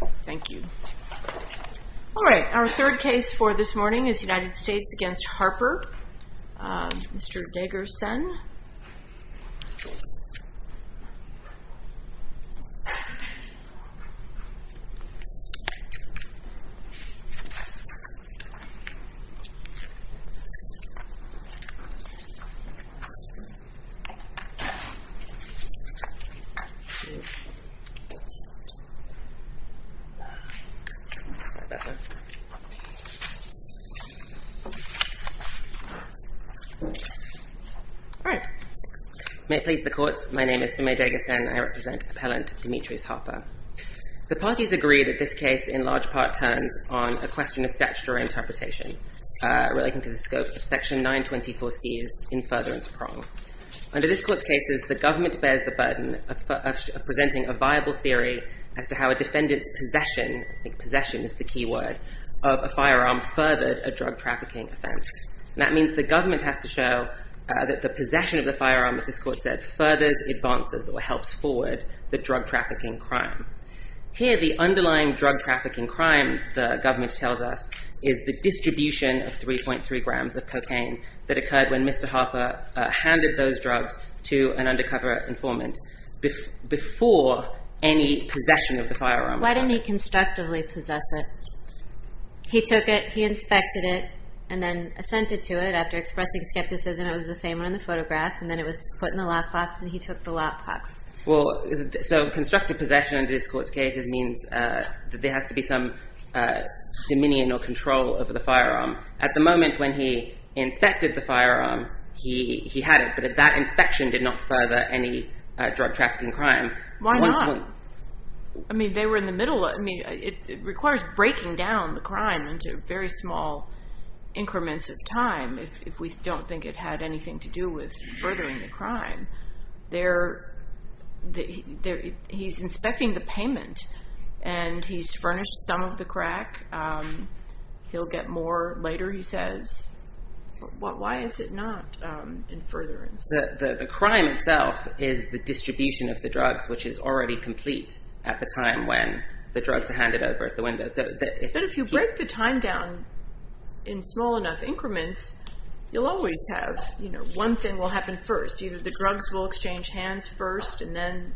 All right, our third case for this morning is United States v. Harper, Mr. Diggerson May it please the Court, my name is Simay Diggerson and I represent Appellant Demetrise Harper. The parties agree that this case in large part turns on a question of statutory interpretation relating to the scope of Section 924C's infuriarance prong. Under this Court's cases, the government bears the burden of presenting a viable theory as to how a defendant's possession, I think possession is the key word, of a firearm furthered a drug trafficking offense. That means the government has to show that the possession of the firearm, as this Court said, furthers, advances, or helps forward the drug trafficking crime. Here the underlying drug trafficking crime, the government tells us, is the distribution of 3.3 grams of cocaine that occurred when Mr. Harper handed those drugs to an undercover informant before any possession of the firearm. Why didn't he constructively possess it? He took it, he inspected it, and then sent it to it. After expressing skepticism, it was the same one in the photograph, and then it was put in the lockbox, and he took the lockbox. Well, so constructive possession in this Court's cases means that there has to be some dominion or control over the firearm. At the moment when he inspected the firearm, he had it, but that inspection did not further any drug trafficking crime. Why not? I mean, they were in the middle. I mean, it requires breaking down the crime into very small increments of time if we don't think it had anything to do with furthering crime. He's inspecting the payment, and he's furnished some of the crack. He'll get more later, he says. Why is it not in furtherance? The crime itself is the distribution of the drugs, which is already complete at the time when the drugs are handed over at the window. But if you break the time down in small enough increments, you'll always have, you know, one thing will happen first. Either the drugs will exchange hands first, and then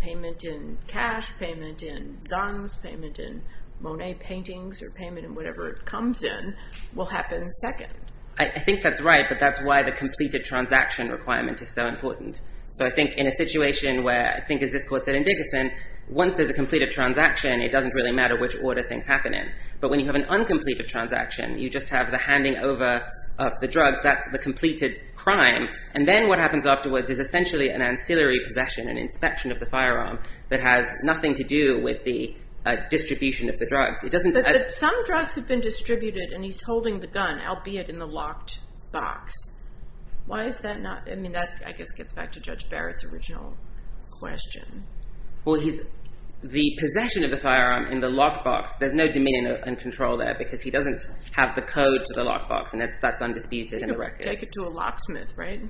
payment in cash, payment in guns, payment in Monet paintings, or payment in whatever it comes in will happen second. I think that's right, but that's why the completed transaction requirement is so important. So I think in a situation where, I think as this Court said in Dickerson, once there's a completed transaction, it doesn't really matter which order things happen in. But when you have an uncompleted transaction, you just have the handing over of the drugs, that's the completed crime. And then what happens afterwards is essentially an ancillary possession, an inspection of the firearm that has nothing to do with the distribution of the drugs. But some drugs have been distributed, and he's holding the gun, albeit in the locked box. Why is that not, I mean, that I guess gets back to Judge Barrett's original question. Well, the possession of the firearm in the locked box, there's no dominion and control there, because he doesn't have the code to the locked box, and that's undisputed in the record. You could take it to a locksmith, right?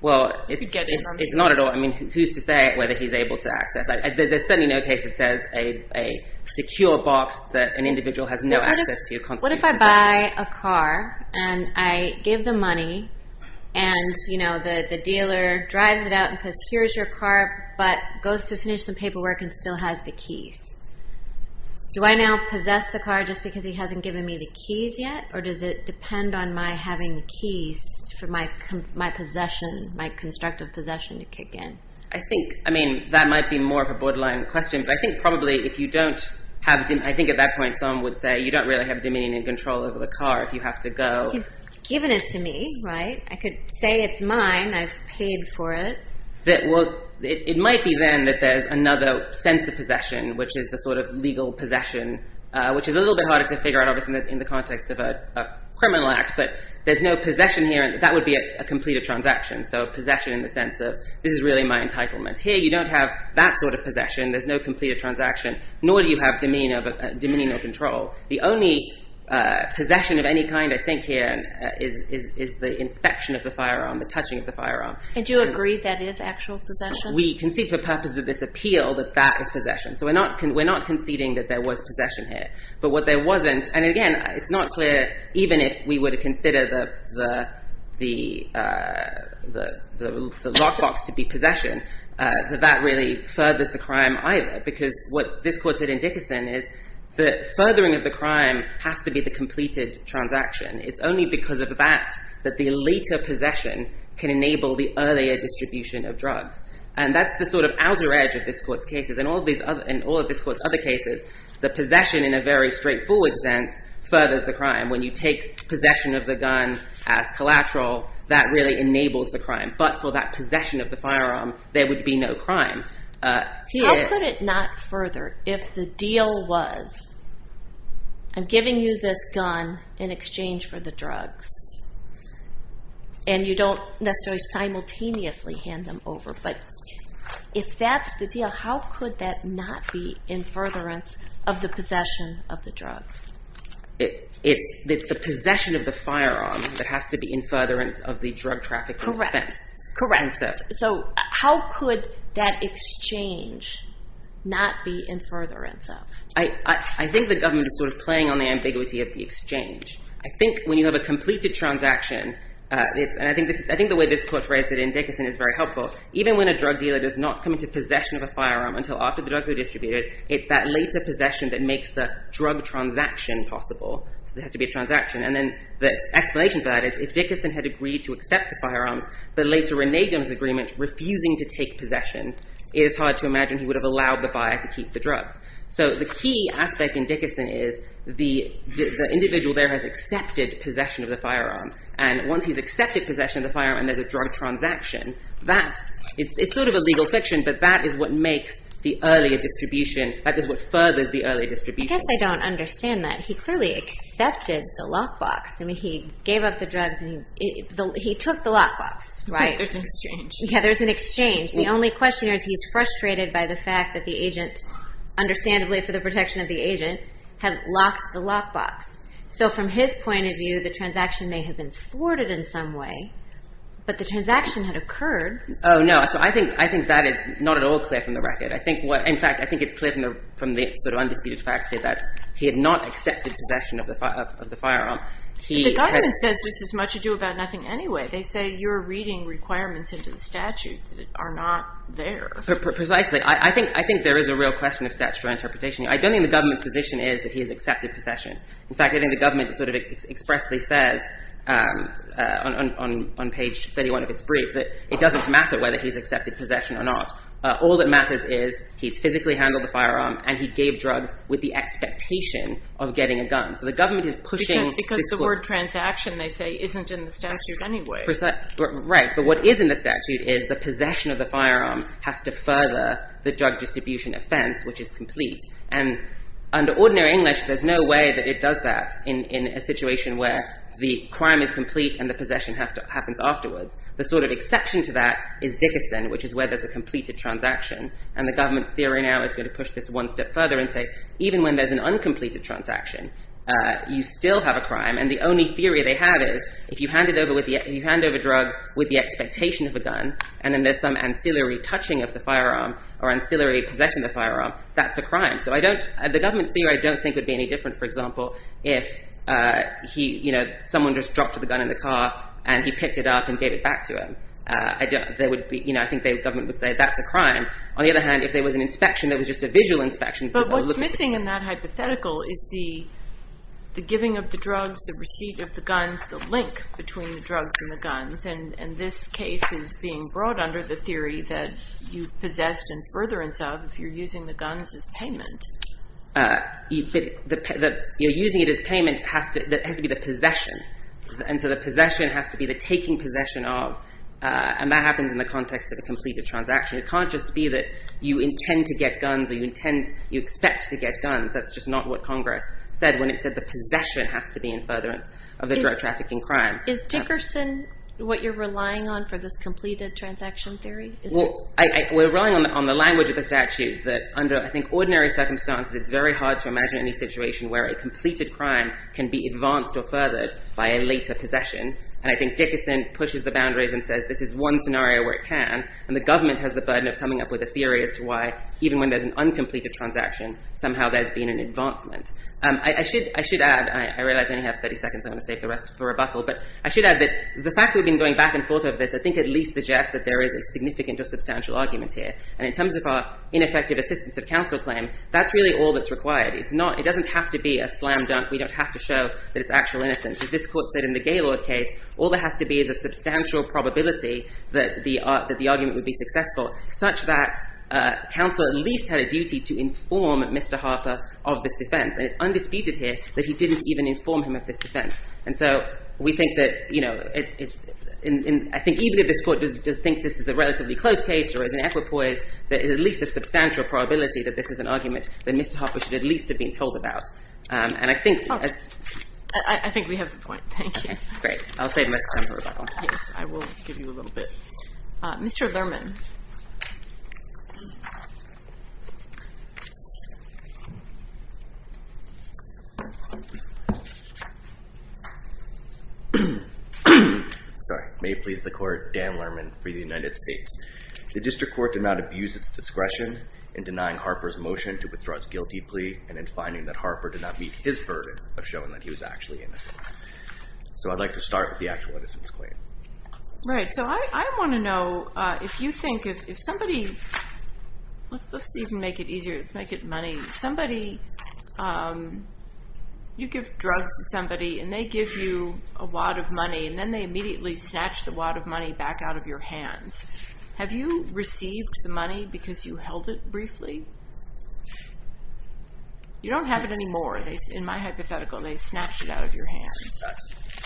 Well, it's not at all, I mean, who's to say whether he's able to access it. There's certainly no case that says a secure box that an individual has no access to. What if I buy a car, and I give the money, and the dealer drives it out and says, here's your car, but goes to finish some paperwork and still has the keys. Do I now possess the car just because he hasn't given me the keys yet, or does it depend on my having the keys for my possession, my constructive possession to kick in? I think, I mean, that might be more of a borderline question, but I think probably if you don't have, I think at that point someone would say you don't really have dominion and control over the car if you have to go. He's given it to me, right? I could say it's mine, I've paid for it. It might be then that there's another sense of possession, which is the sort of legal possession, which is a little bit harder to figure out, obviously, in the context of a criminal act, but there's no possession here, and that would be a completed transaction, so possession in the sense of this is really my entitlement. Here you don't have that sort of possession, there's no completed transaction, nor do you have dominion or control. The only possession of any kind, I think, here is the inspection of the firearm, the touching of the firearm. And do you agree that is actual possession? We concede for the purpose of this appeal that that is possession, so we're not conceding that there was possession here, but what there wasn't, and again, it's not clear, even if we were to consider the lockbox to be possession, that that really furthers the crime either, because what this court said in Dickerson is the furthering of the crime has to be the completed transaction. It's only because of that that the later possession can enable the earlier distribution of drugs, and that's the sort of outer edge of this court's cases. In all of this court's other cases, the possession in a very straightforward sense furthers the crime. When you take possession of the gun as collateral, that really enables the crime, but for that possession of the firearm there would be no crime. I'll put it not further. If the deal was I'm giving you this gun in exchange for the drugs, and you don't necessarily simultaneously hand them over, but if that's the deal, how could that not be in furtherance of the possession of the drugs? It's the possession of the firearm that has to be in furtherance of the drug trafficking offense. Correct. How could that exchange not be in furtherance of? I think the government is sort of playing on the ambiguity of the exchange. I think when you have a completed transaction, and I think the way this court phrased it in Dickerson is very helpful, even when a drug dealer does not come into possession of a firearm until after the drugs are distributed, it's that later possession that makes the drug transaction possible. There has to be a transaction, and then the explanation for that is if Dickerson had agreed to accept the firearms but later reneged on his agreement, refusing to take possession, it is hard to imagine he would have allowed the buyer to keep the drugs. So the key aspect in Dickerson is the individual there has accepted possession of the firearm, and once he's accepted possession of the firearm and there's a drug transaction, it's sort of a legal fiction, but that is what makes the earlier distribution, that is what furthers the earlier distribution. I guess I don't understand that. He clearly accepted the lockbox. I mean, he gave up the drugs and he took the lockbox, right? There's an exchange. Yeah, there's an exchange. The only question is he's frustrated by the fact that the agent, understandably for the protection of the agent, had locked the lockbox. So from his point of view, the transaction may have been thwarted in some way, but the transaction had occurred. Oh, no. So I think that is not at all clear from the record. In fact, I think it's clear from the sort of undisputed facts that he had not accepted possession of the firearm. But the government says this is much ado about nothing anyway. They say you're reading requirements into the statute that are not there. Precisely. I think there is a real question of statutory interpretation. I don't think the government's position is that he has accepted possession. In fact, I think the government sort of expressly says on page 31 of its brief that it doesn't matter whether he's accepted possession or not. All that matters is he's physically handled the firearm and he gave drugs with the expectation of getting a gun. So the government is pushing this course. Because the word transaction, they say, isn't in the statute anyway. Right. But what is in the statute is the possession of the firearm has to further the drug distribution offense, which is complete. And under ordinary English, there's no way that it does that in a situation where the crime is complete and the possession happens afterwards. The sort of exception to that is Dickerson, which is where there's a completed transaction. And the government's theory now is going to push this one step further and say even when there's an uncompleted transaction, you still have a crime. And the only theory they have is if you hand over drugs with the expectation of a gun and then there's some ancillary touching of the firearm or ancillary possession of the firearm, that's a crime. So the government's view I don't think would be any different, for example, if someone just dropped the gun in the car and he picked it up and gave it back to him. I think the government would say that's a crime. On the other hand, if there was an inspection that was just a visual inspection. But what's missing in that hypothetical is the giving of the drugs, the receipt of the guns, the link between the drugs and the guns. And this case is being brought under the theory that you've possessed and furtherance of if you're using the guns as payment. Using it as payment has to be the possession. And so the possession has to be the taking possession of. And that happens in the context of a completed transaction. It can't just be that you intend to get guns or you expect to get guns. That's just not what Congress said when it said the possession has to be in furtherance of the drug trafficking crime. Is Dickerson what you're relying on for this completed transaction theory? We're relying on the language of the statute that under I think ordinary circumstances it's very hard to imagine any situation where a completed crime can be advanced or furthered. By a later possession. And I think Dickerson pushes the boundaries and says this is one scenario where it can. And the government has the burden of coming up with a theory as to why even when there's an uncompleted transaction, somehow there's been an advancement. I should add, I realize I only have 30 seconds, I'm going to save the rest for rebuttal, but I should add that the fact that we've been going back and forth over this I think at least suggests that there is a significant or substantial argument here. And in terms of our ineffective assistance of counsel claim, that's really all that's required. It doesn't have to be a slam dunk. We don't have to show that it's actual innocence. As this court said in the Gaylord case, all there has to be is a substantial probability that the argument would be successful, such that counsel at least had a duty to inform Mr. Harper of this defense. And it's undisputed here that he didn't even inform him of this defense. And so we think that, you know, I think even if this court does think this is a relatively close case or is an equipoise, there is at least a substantial probability that this is an argument that Mr. Harper should at least have been told about. And I think... Okay. I think we have the point. Thank you. Great. I'll save the rest of the time for rebuttal. Yes. I will give you a little bit. Mr. Lerman. Sorry. May it please the Court. Dan Lerman for the United States. The district court did not abuse its discretion in denying Harper's motion to withdraw its guilty plea and in finding that Harper did not meet his burden of showing that he was actually innocent. So I'd like to start with the actual innocence claim. Right. So I want to know if you think if somebody... Let's even make it easier. Let's make it money. Somebody... You give drugs to somebody and they give you a wad of money and then they immediately snatch the wad of money back out of your hands. Have you received the money because you held it briefly? You don't have it anymore. In my hypothetical, they snatched it out of your hands.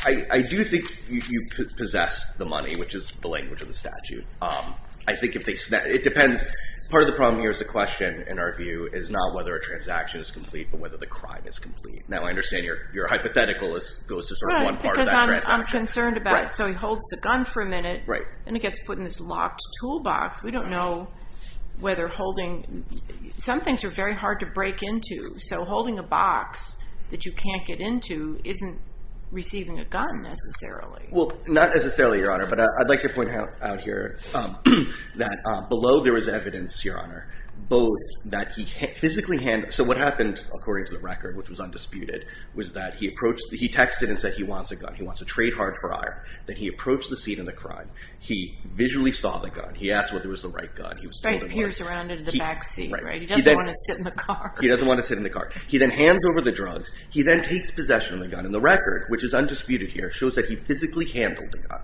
I do think you possess the money, which is the language of the statute. I think if they... It depends. Part of the problem here is the question, in our view, is not whether a transaction is complete but whether the crime is complete. Now, I understand your hypothetical goes to sort of one part of that transaction. Because I'm concerned about it. So he holds the gun for a minute and it gets put in this locked toolbox. We don't know whether holding... Some things are very hard to break into. So holding a box that you can't get into isn't receiving a gun, necessarily. Well, not necessarily, Your Honor. But I'd like to point out here that below there was evidence, Your Honor, both that he physically handled... So what happened, according to the record, which was undisputed, was that he approached... He texted and said he wants a gun. He wants a trade hard for iron. Then he approached the seat in the crime. He visually saw the gun. He asked whether it was the right gun. Right, he peers around into the back seat. He doesn't want to sit in the car. He doesn't want to sit in the car. He then hands over the drugs. He then takes possession of the gun. And the record, which is undisputed here, shows that he physically handled the gun.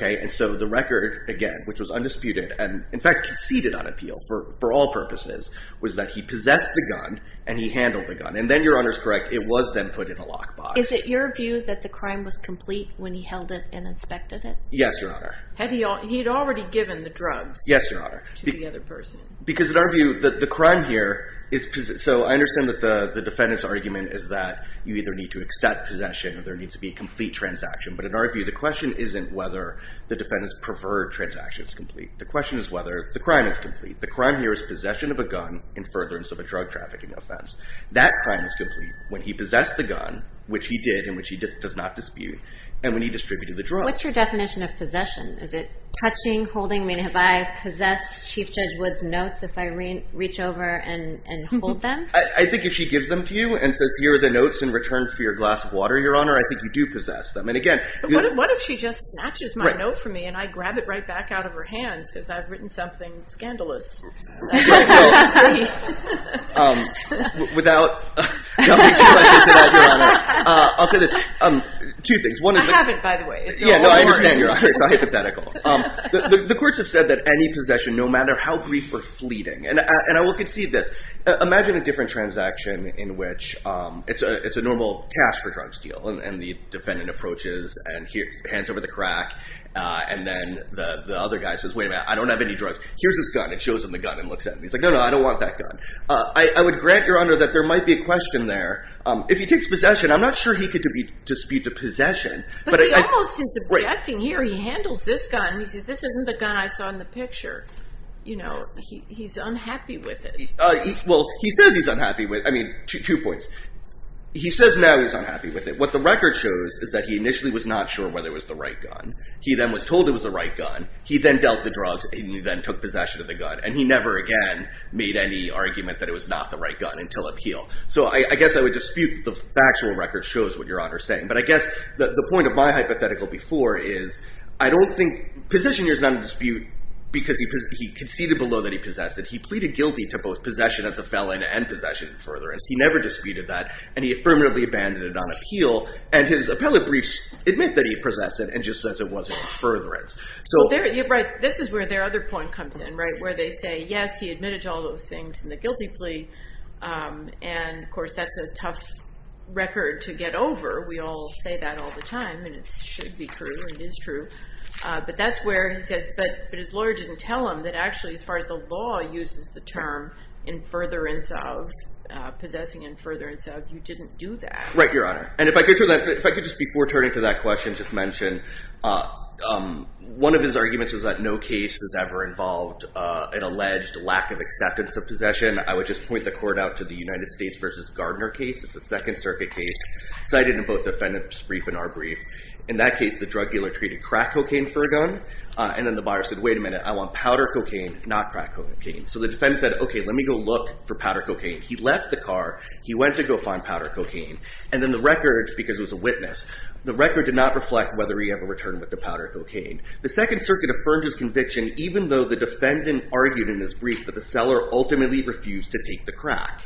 And so the record, again, which was undisputed, and, in fact, conceded on appeal for all purposes, was that he possessed the gun and he handled the gun. And then, Your Honor is correct, it was then put in a locked box. Is it your view that the crime was complete when he held it and inspected it? Yes, Your Honor. He had already given the drugs... Yes, Your Honor. ...to the other person. Because, in our view, the crime here is... So I understand that the defendant's argument is that you either need to accept possession or there needs to be a complete transaction. But, in our view, the question isn't whether the defendant's preferred transaction is complete. The question is whether the crime is complete. The crime here is possession of a gun in furtherance of a drug trafficking offense. That crime is complete when he possessed the gun, which he did and which he does not dispute, and when he distributed the drugs. What's your definition of possession? Is it touching, holding? I mean, have I possessed Chief Judge Wood's notes if I reach over and hold them? I think if she gives them to you and says, here are the notes in return for your glass of water, Your Honor, I think you do possess them. And, again... But what if she just snatches my note from me and I grab it right back out of her hands because I've written something scandalous? Without jumping too much into that, Your Honor, I'll say this. Two things. I haven't, by the way. Yeah, no, I understand, Your Honor. It's all hypothetical. The courts have said that any possession, no matter how brief, we're fleeting. And I will concede this. Imagine a different transaction in which it's a normal cash-for-drugs deal and the defendant approaches and hands over the crack and then the other guy says, wait a minute, I don't have any drugs. Here's this gun. It shows him the gun and looks at him. He's like, no, no, I don't want that gun. I would grant, Your Honor, that there might be a question there. If he takes possession, I'm not sure he could dispute the possession. But he almost is objecting here. He handles this gun. He says, this isn't the gun I saw in the picture. You know, he's unhappy with it. Well, he says he's unhappy with it. I mean, two points. He says now he's unhappy with it. What the record shows is that he initially was not sure whether it was the right gun. He then was told it was the right gun. He then dealt the drugs and he then took possession of the gun. And he never again made any argument that it was not the right gun until appeal. So I guess I would dispute the factual record shows what Your Honor is saying. But I guess the point of my hypothetical before is I don't think position here is not in dispute because he conceded below that he possessed it. He pleaded guilty to both possession as a felon and possession in furtherance. He never disputed that. And he affirmatively abandoned it on appeal. And his appellate briefs admit that he possessed it and just says it wasn't in furtherance. So this is where their other point comes in, right? Where they say, yes, he admitted to all those things in the guilty plea. And of course, that's a tough record to get over. We all say that all the time. And it should be true. It is true. But that's where he says, but his lawyer didn't tell him that actually as far as the law uses the term in furtherance of, possessing in furtherance of, you didn't do that. Right, Your Honor. And if I could just before turning to that question just mention, one of his arguments was that no case has ever involved an alleged lack of acceptance of possession. I would just point the court out to the United States versus Gardner case. It's a Second Circuit case cited in both defendant's brief and our brief. In that case, the drug dealer treated crack cocaine for a gun. And then the buyer said, wait a minute. I want powder cocaine, not crack cocaine. So the defendant said, OK, let me go look for powder cocaine. He left the car. He went to go find powder cocaine. And then the record, because it was a witness, the record did not reflect whether he ever returned with the powder cocaine. The Second Circuit affirmed his conviction even though the defendant argued in his brief that the seller ultimately refused to take the crack.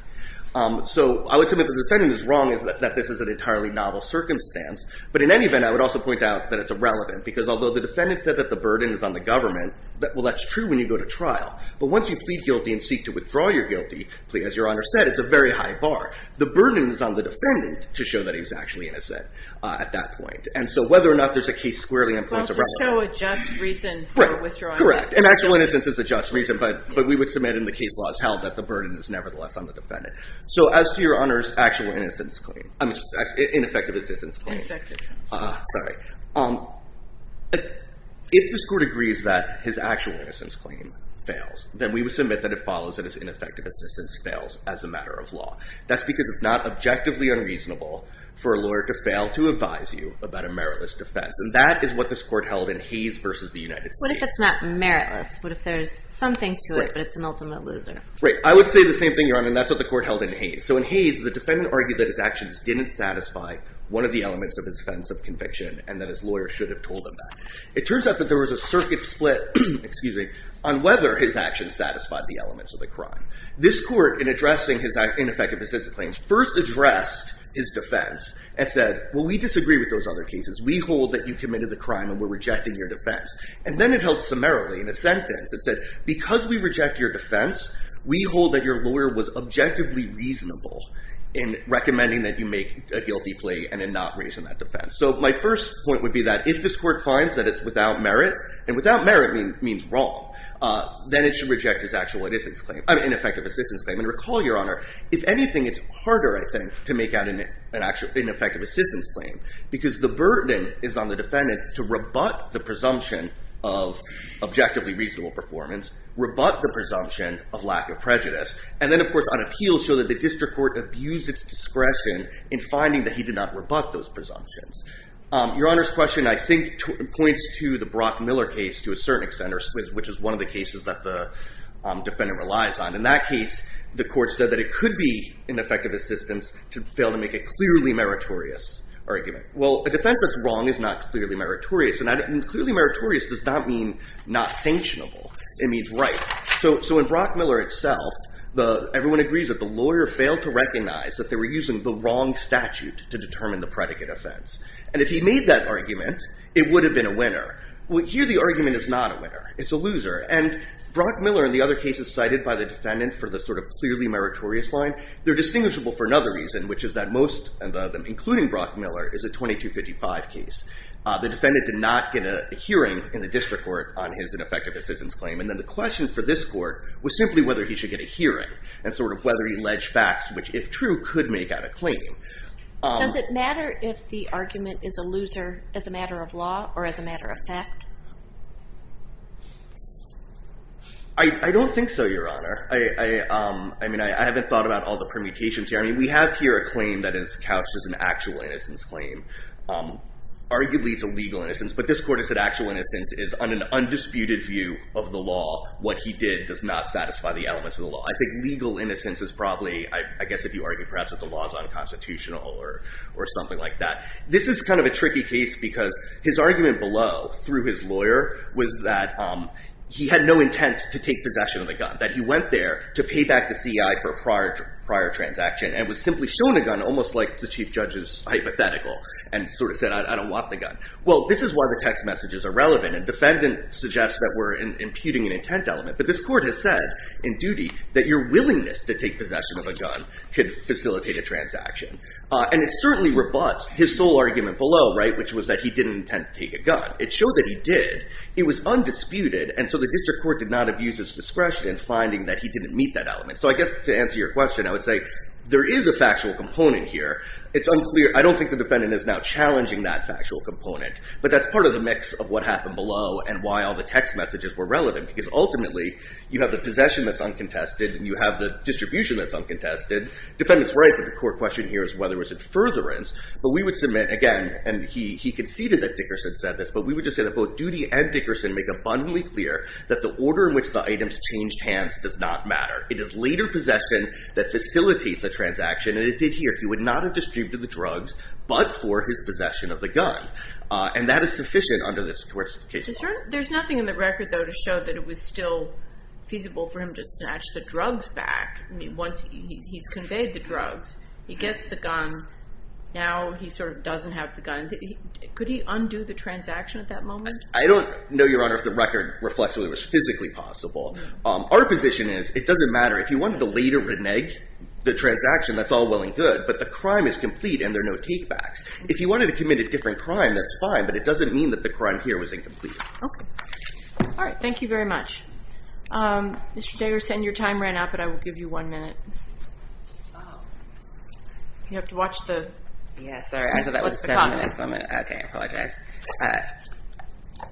So I would say what the defendant is wrong is that this is an entirely novel circumstance. But in any event, I would also point out that it's irrelevant. Because although the defendant said that the burden is on the government, well, that's true when you go to trial. But once you plead guilty and seek to withdraw your guilty, as Your Honor said, it's a very high bar. The burden is on the defendant to show that he's actually innocent at that point. And so whether or not there's a case squarely in point is irrelevant. Well, just show a just reason for withdrawing. Correct. And actual innocence is a just reason. But we would submit in the case law as held that the burden is nevertheless on the defendant. So as to Your Honor's actual innocence claim, I mean, ineffective assistance claim. Ineffective assistance. Sorry. If this court agrees that his actual innocence claim fails, then we would submit that it follows that his ineffective assistance fails as a matter of law. That's because it's not objectively unreasonable for a lawyer to fail to advise you about a meritless defense. And that is what this court held in Hayes versus the United States. What if it's not meritless? What if there's something to it, but it's an ultimate loser? I would say the same thing, Your Honor. And that's what the court held in Hayes. So in Hayes, the defendant argued that his actions didn't satisfy one of the elements of his defense of conviction and that his lawyer should have told him that. It turns out that there was a circuit split on whether his actions satisfied the elements of the crime. This court, in addressing his ineffective assistance claims, first addressed his defense and said, well, we disagree with those other cases. We hold that you committed the crime and we're rejecting your defense. And then it held summarily in a sentence. It said, because we reject your defense, we hold that your lawyer was objectively reasonable in recommending that you make a guilty plea and in not raising that defense. So my first point would be that if this court finds that it's without merit, and without merit means wrong, then it should reject his ineffective assistance claim. And recall, Your Honor, if anything, it's harder, I think, to make out an ineffective assistance claim. Because the burden is on the defendant to rebut the presumption of objectively lack of prejudice. And then, of course, on appeal, show that the district court abused its discretion in finding that he did not rebut those presumptions. Your Honor's question, I think, points to the Brock Miller case to a certain extent, which is one of the cases that the defendant relies on. In that case, the court said that it could be ineffective assistance to fail to make a clearly meritorious argument. Well, a defense that's wrong is not clearly meritorious. And clearly meritorious does not mean not sanctionable. It means right. So in Brock Miller itself, everyone agrees that the lawyer failed to recognize that they were using the wrong statute to determine the predicate offense. And if he made that argument, it would have been a winner. Well, here, the argument is not a winner. It's a loser. And Brock Miller and the other cases cited by the defendant for the clearly meritorious line, they're distinguishable for another reason, which is that most of them, including Brock Miller, is a 2255 case. The defendant did not get a hearing in the district court on his ineffective assistance claim. And then the question for this court was simply whether he should get a hearing and whether he alleged facts, which, if true, could make out a claim. Does it matter if the argument is a loser as a matter of law or as a matter of fact? I don't think so, Your Honor. I haven't thought about all the permutations here. I mean, we have here a claim that is couched as an actual innocence claim. Arguably, it's a legal innocence. But this court has said actual innocence is, on an undisputed view of the law, what he did does not satisfy the elements of the law. I think legal innocence is probably, I guess, if you argue, perhaps, that the law is unconstitutional or something like that. This is kind of a tricky case because his argument below, through his lawyer, was that he had no intent to take possession of the gun, that he went there to pay back the CI for a prior transaction and was simply shown a gun, almost like the chief judge's hypothetical, and sort of said, I don't want the gun. Well, this is why the text messages are relevant. And defendant suggests that we're imputing an intent element. But this court has said, in duty, that your willingness to take possession of a gun could facilitate a transaction. And it certainly rebuts his sole argument below, which was that he didn't intend to take a gun. It showed that he did. It was undisputed. And so the district court did not abuse its discretion in finding that he didn't meet that element. So I guess, to answer your question, I would say, there is a factual component here. I don't think the defendant is now looking at the factual component. But that's part of the mix of what happened below and why all the text messages were relevant. Because ultimately, you have the possession that's uncontested, and you have the distribution that's uncontested. Defendant's right that the court question here is whether it was in furtherance. But we would submit, again, and he conceded that Dickerson said this, but we would just say that both duty and Dickerson make abundantly clear that the order in which the items changed hands does not matter. It is later possession that facilitates a transaction. And it did here. He would not have distributed the drugs, but for his possession of the gun. And that is sufficient under this court's case law. There's nothing in the record, though, to show that it was still feasible for him to snatch the drugs back. I mean, once he's conveyed the drugs, he gets the gun. Now he sort of doesn't have the gun. Could he undo the transaction at that moment? I don't know, Your Honor, if the record reflects whether it was physically possible. Our position is, it doesn't matter. If you wanted to later renege the transaction, that's all well and good. But the crime is complete, and there are no takebacks. If you wanted to commit a different crime, that's fine. But it doesn't mean that the crime here was incomplete. All right. Thank you very much. Mr. Diggerson, your time ran out, but I will give you one minute. You have to watch the clock. Yes, sorry. I thought that was seven minutes. OK. I apologize.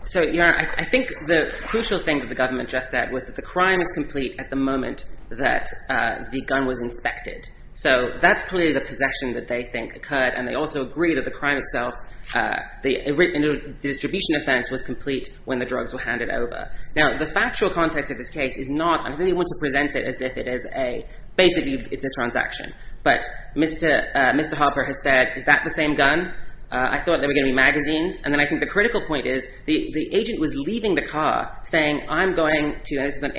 So Your Honor, I think the crucial thing that the government just said was that the crime is complete at the moment that the gun was inspected. So that's clearly the possession that they think occurred, and they also agree that the crime itself, the distribution offense, was complete when the drugs were handed over. Now, the factual context of this case is not, and I really want to present it as if it is a, basically it's a transaction. But Mr. Harper has said, is that the same gun? I thought there were going to be magazines. And then I think the critical point is, the agent was leaving the car saying, I'm going to, and this is at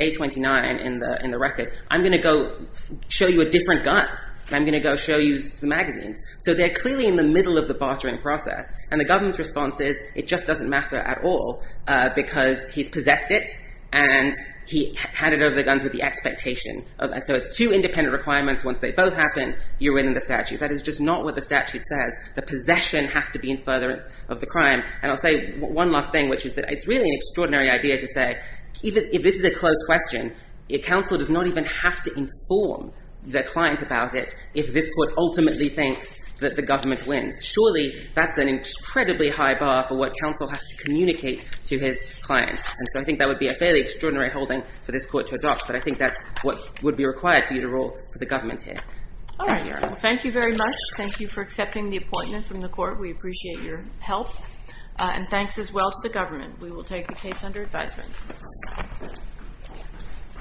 A29 in the record, I'm going to go show you a different gun. I'm going to go show you some magazines. So they're clearly in the middle of the bartering process. And the government's response is, it just doesn't matter at all because he's possessed it and he handed over the guns with the expectation. So it's two independent requirements. Once they both happen, you're within the statute. That is just not what the statute says. The possession has to be in furtherance of the crime. And I'll say one last thing, which is that it's really an extraordinary idea to say, even if this is a closed question, counsel does not even have to inform the client about it if this court ultimately thinks that the government wins. Surely, that's an incredibly high bar for what counsel has to communicate to his client. And so I think that would be a fairly extraordinary holding for this court to adopt. But I think that's what would be required for you to rule for the government here. All right, Your Honor. Thank you very much. Thank you for accepting the appointment from the court. We appreciate your help. And thanks as well to the government. We will take the case under advisement. Thank you.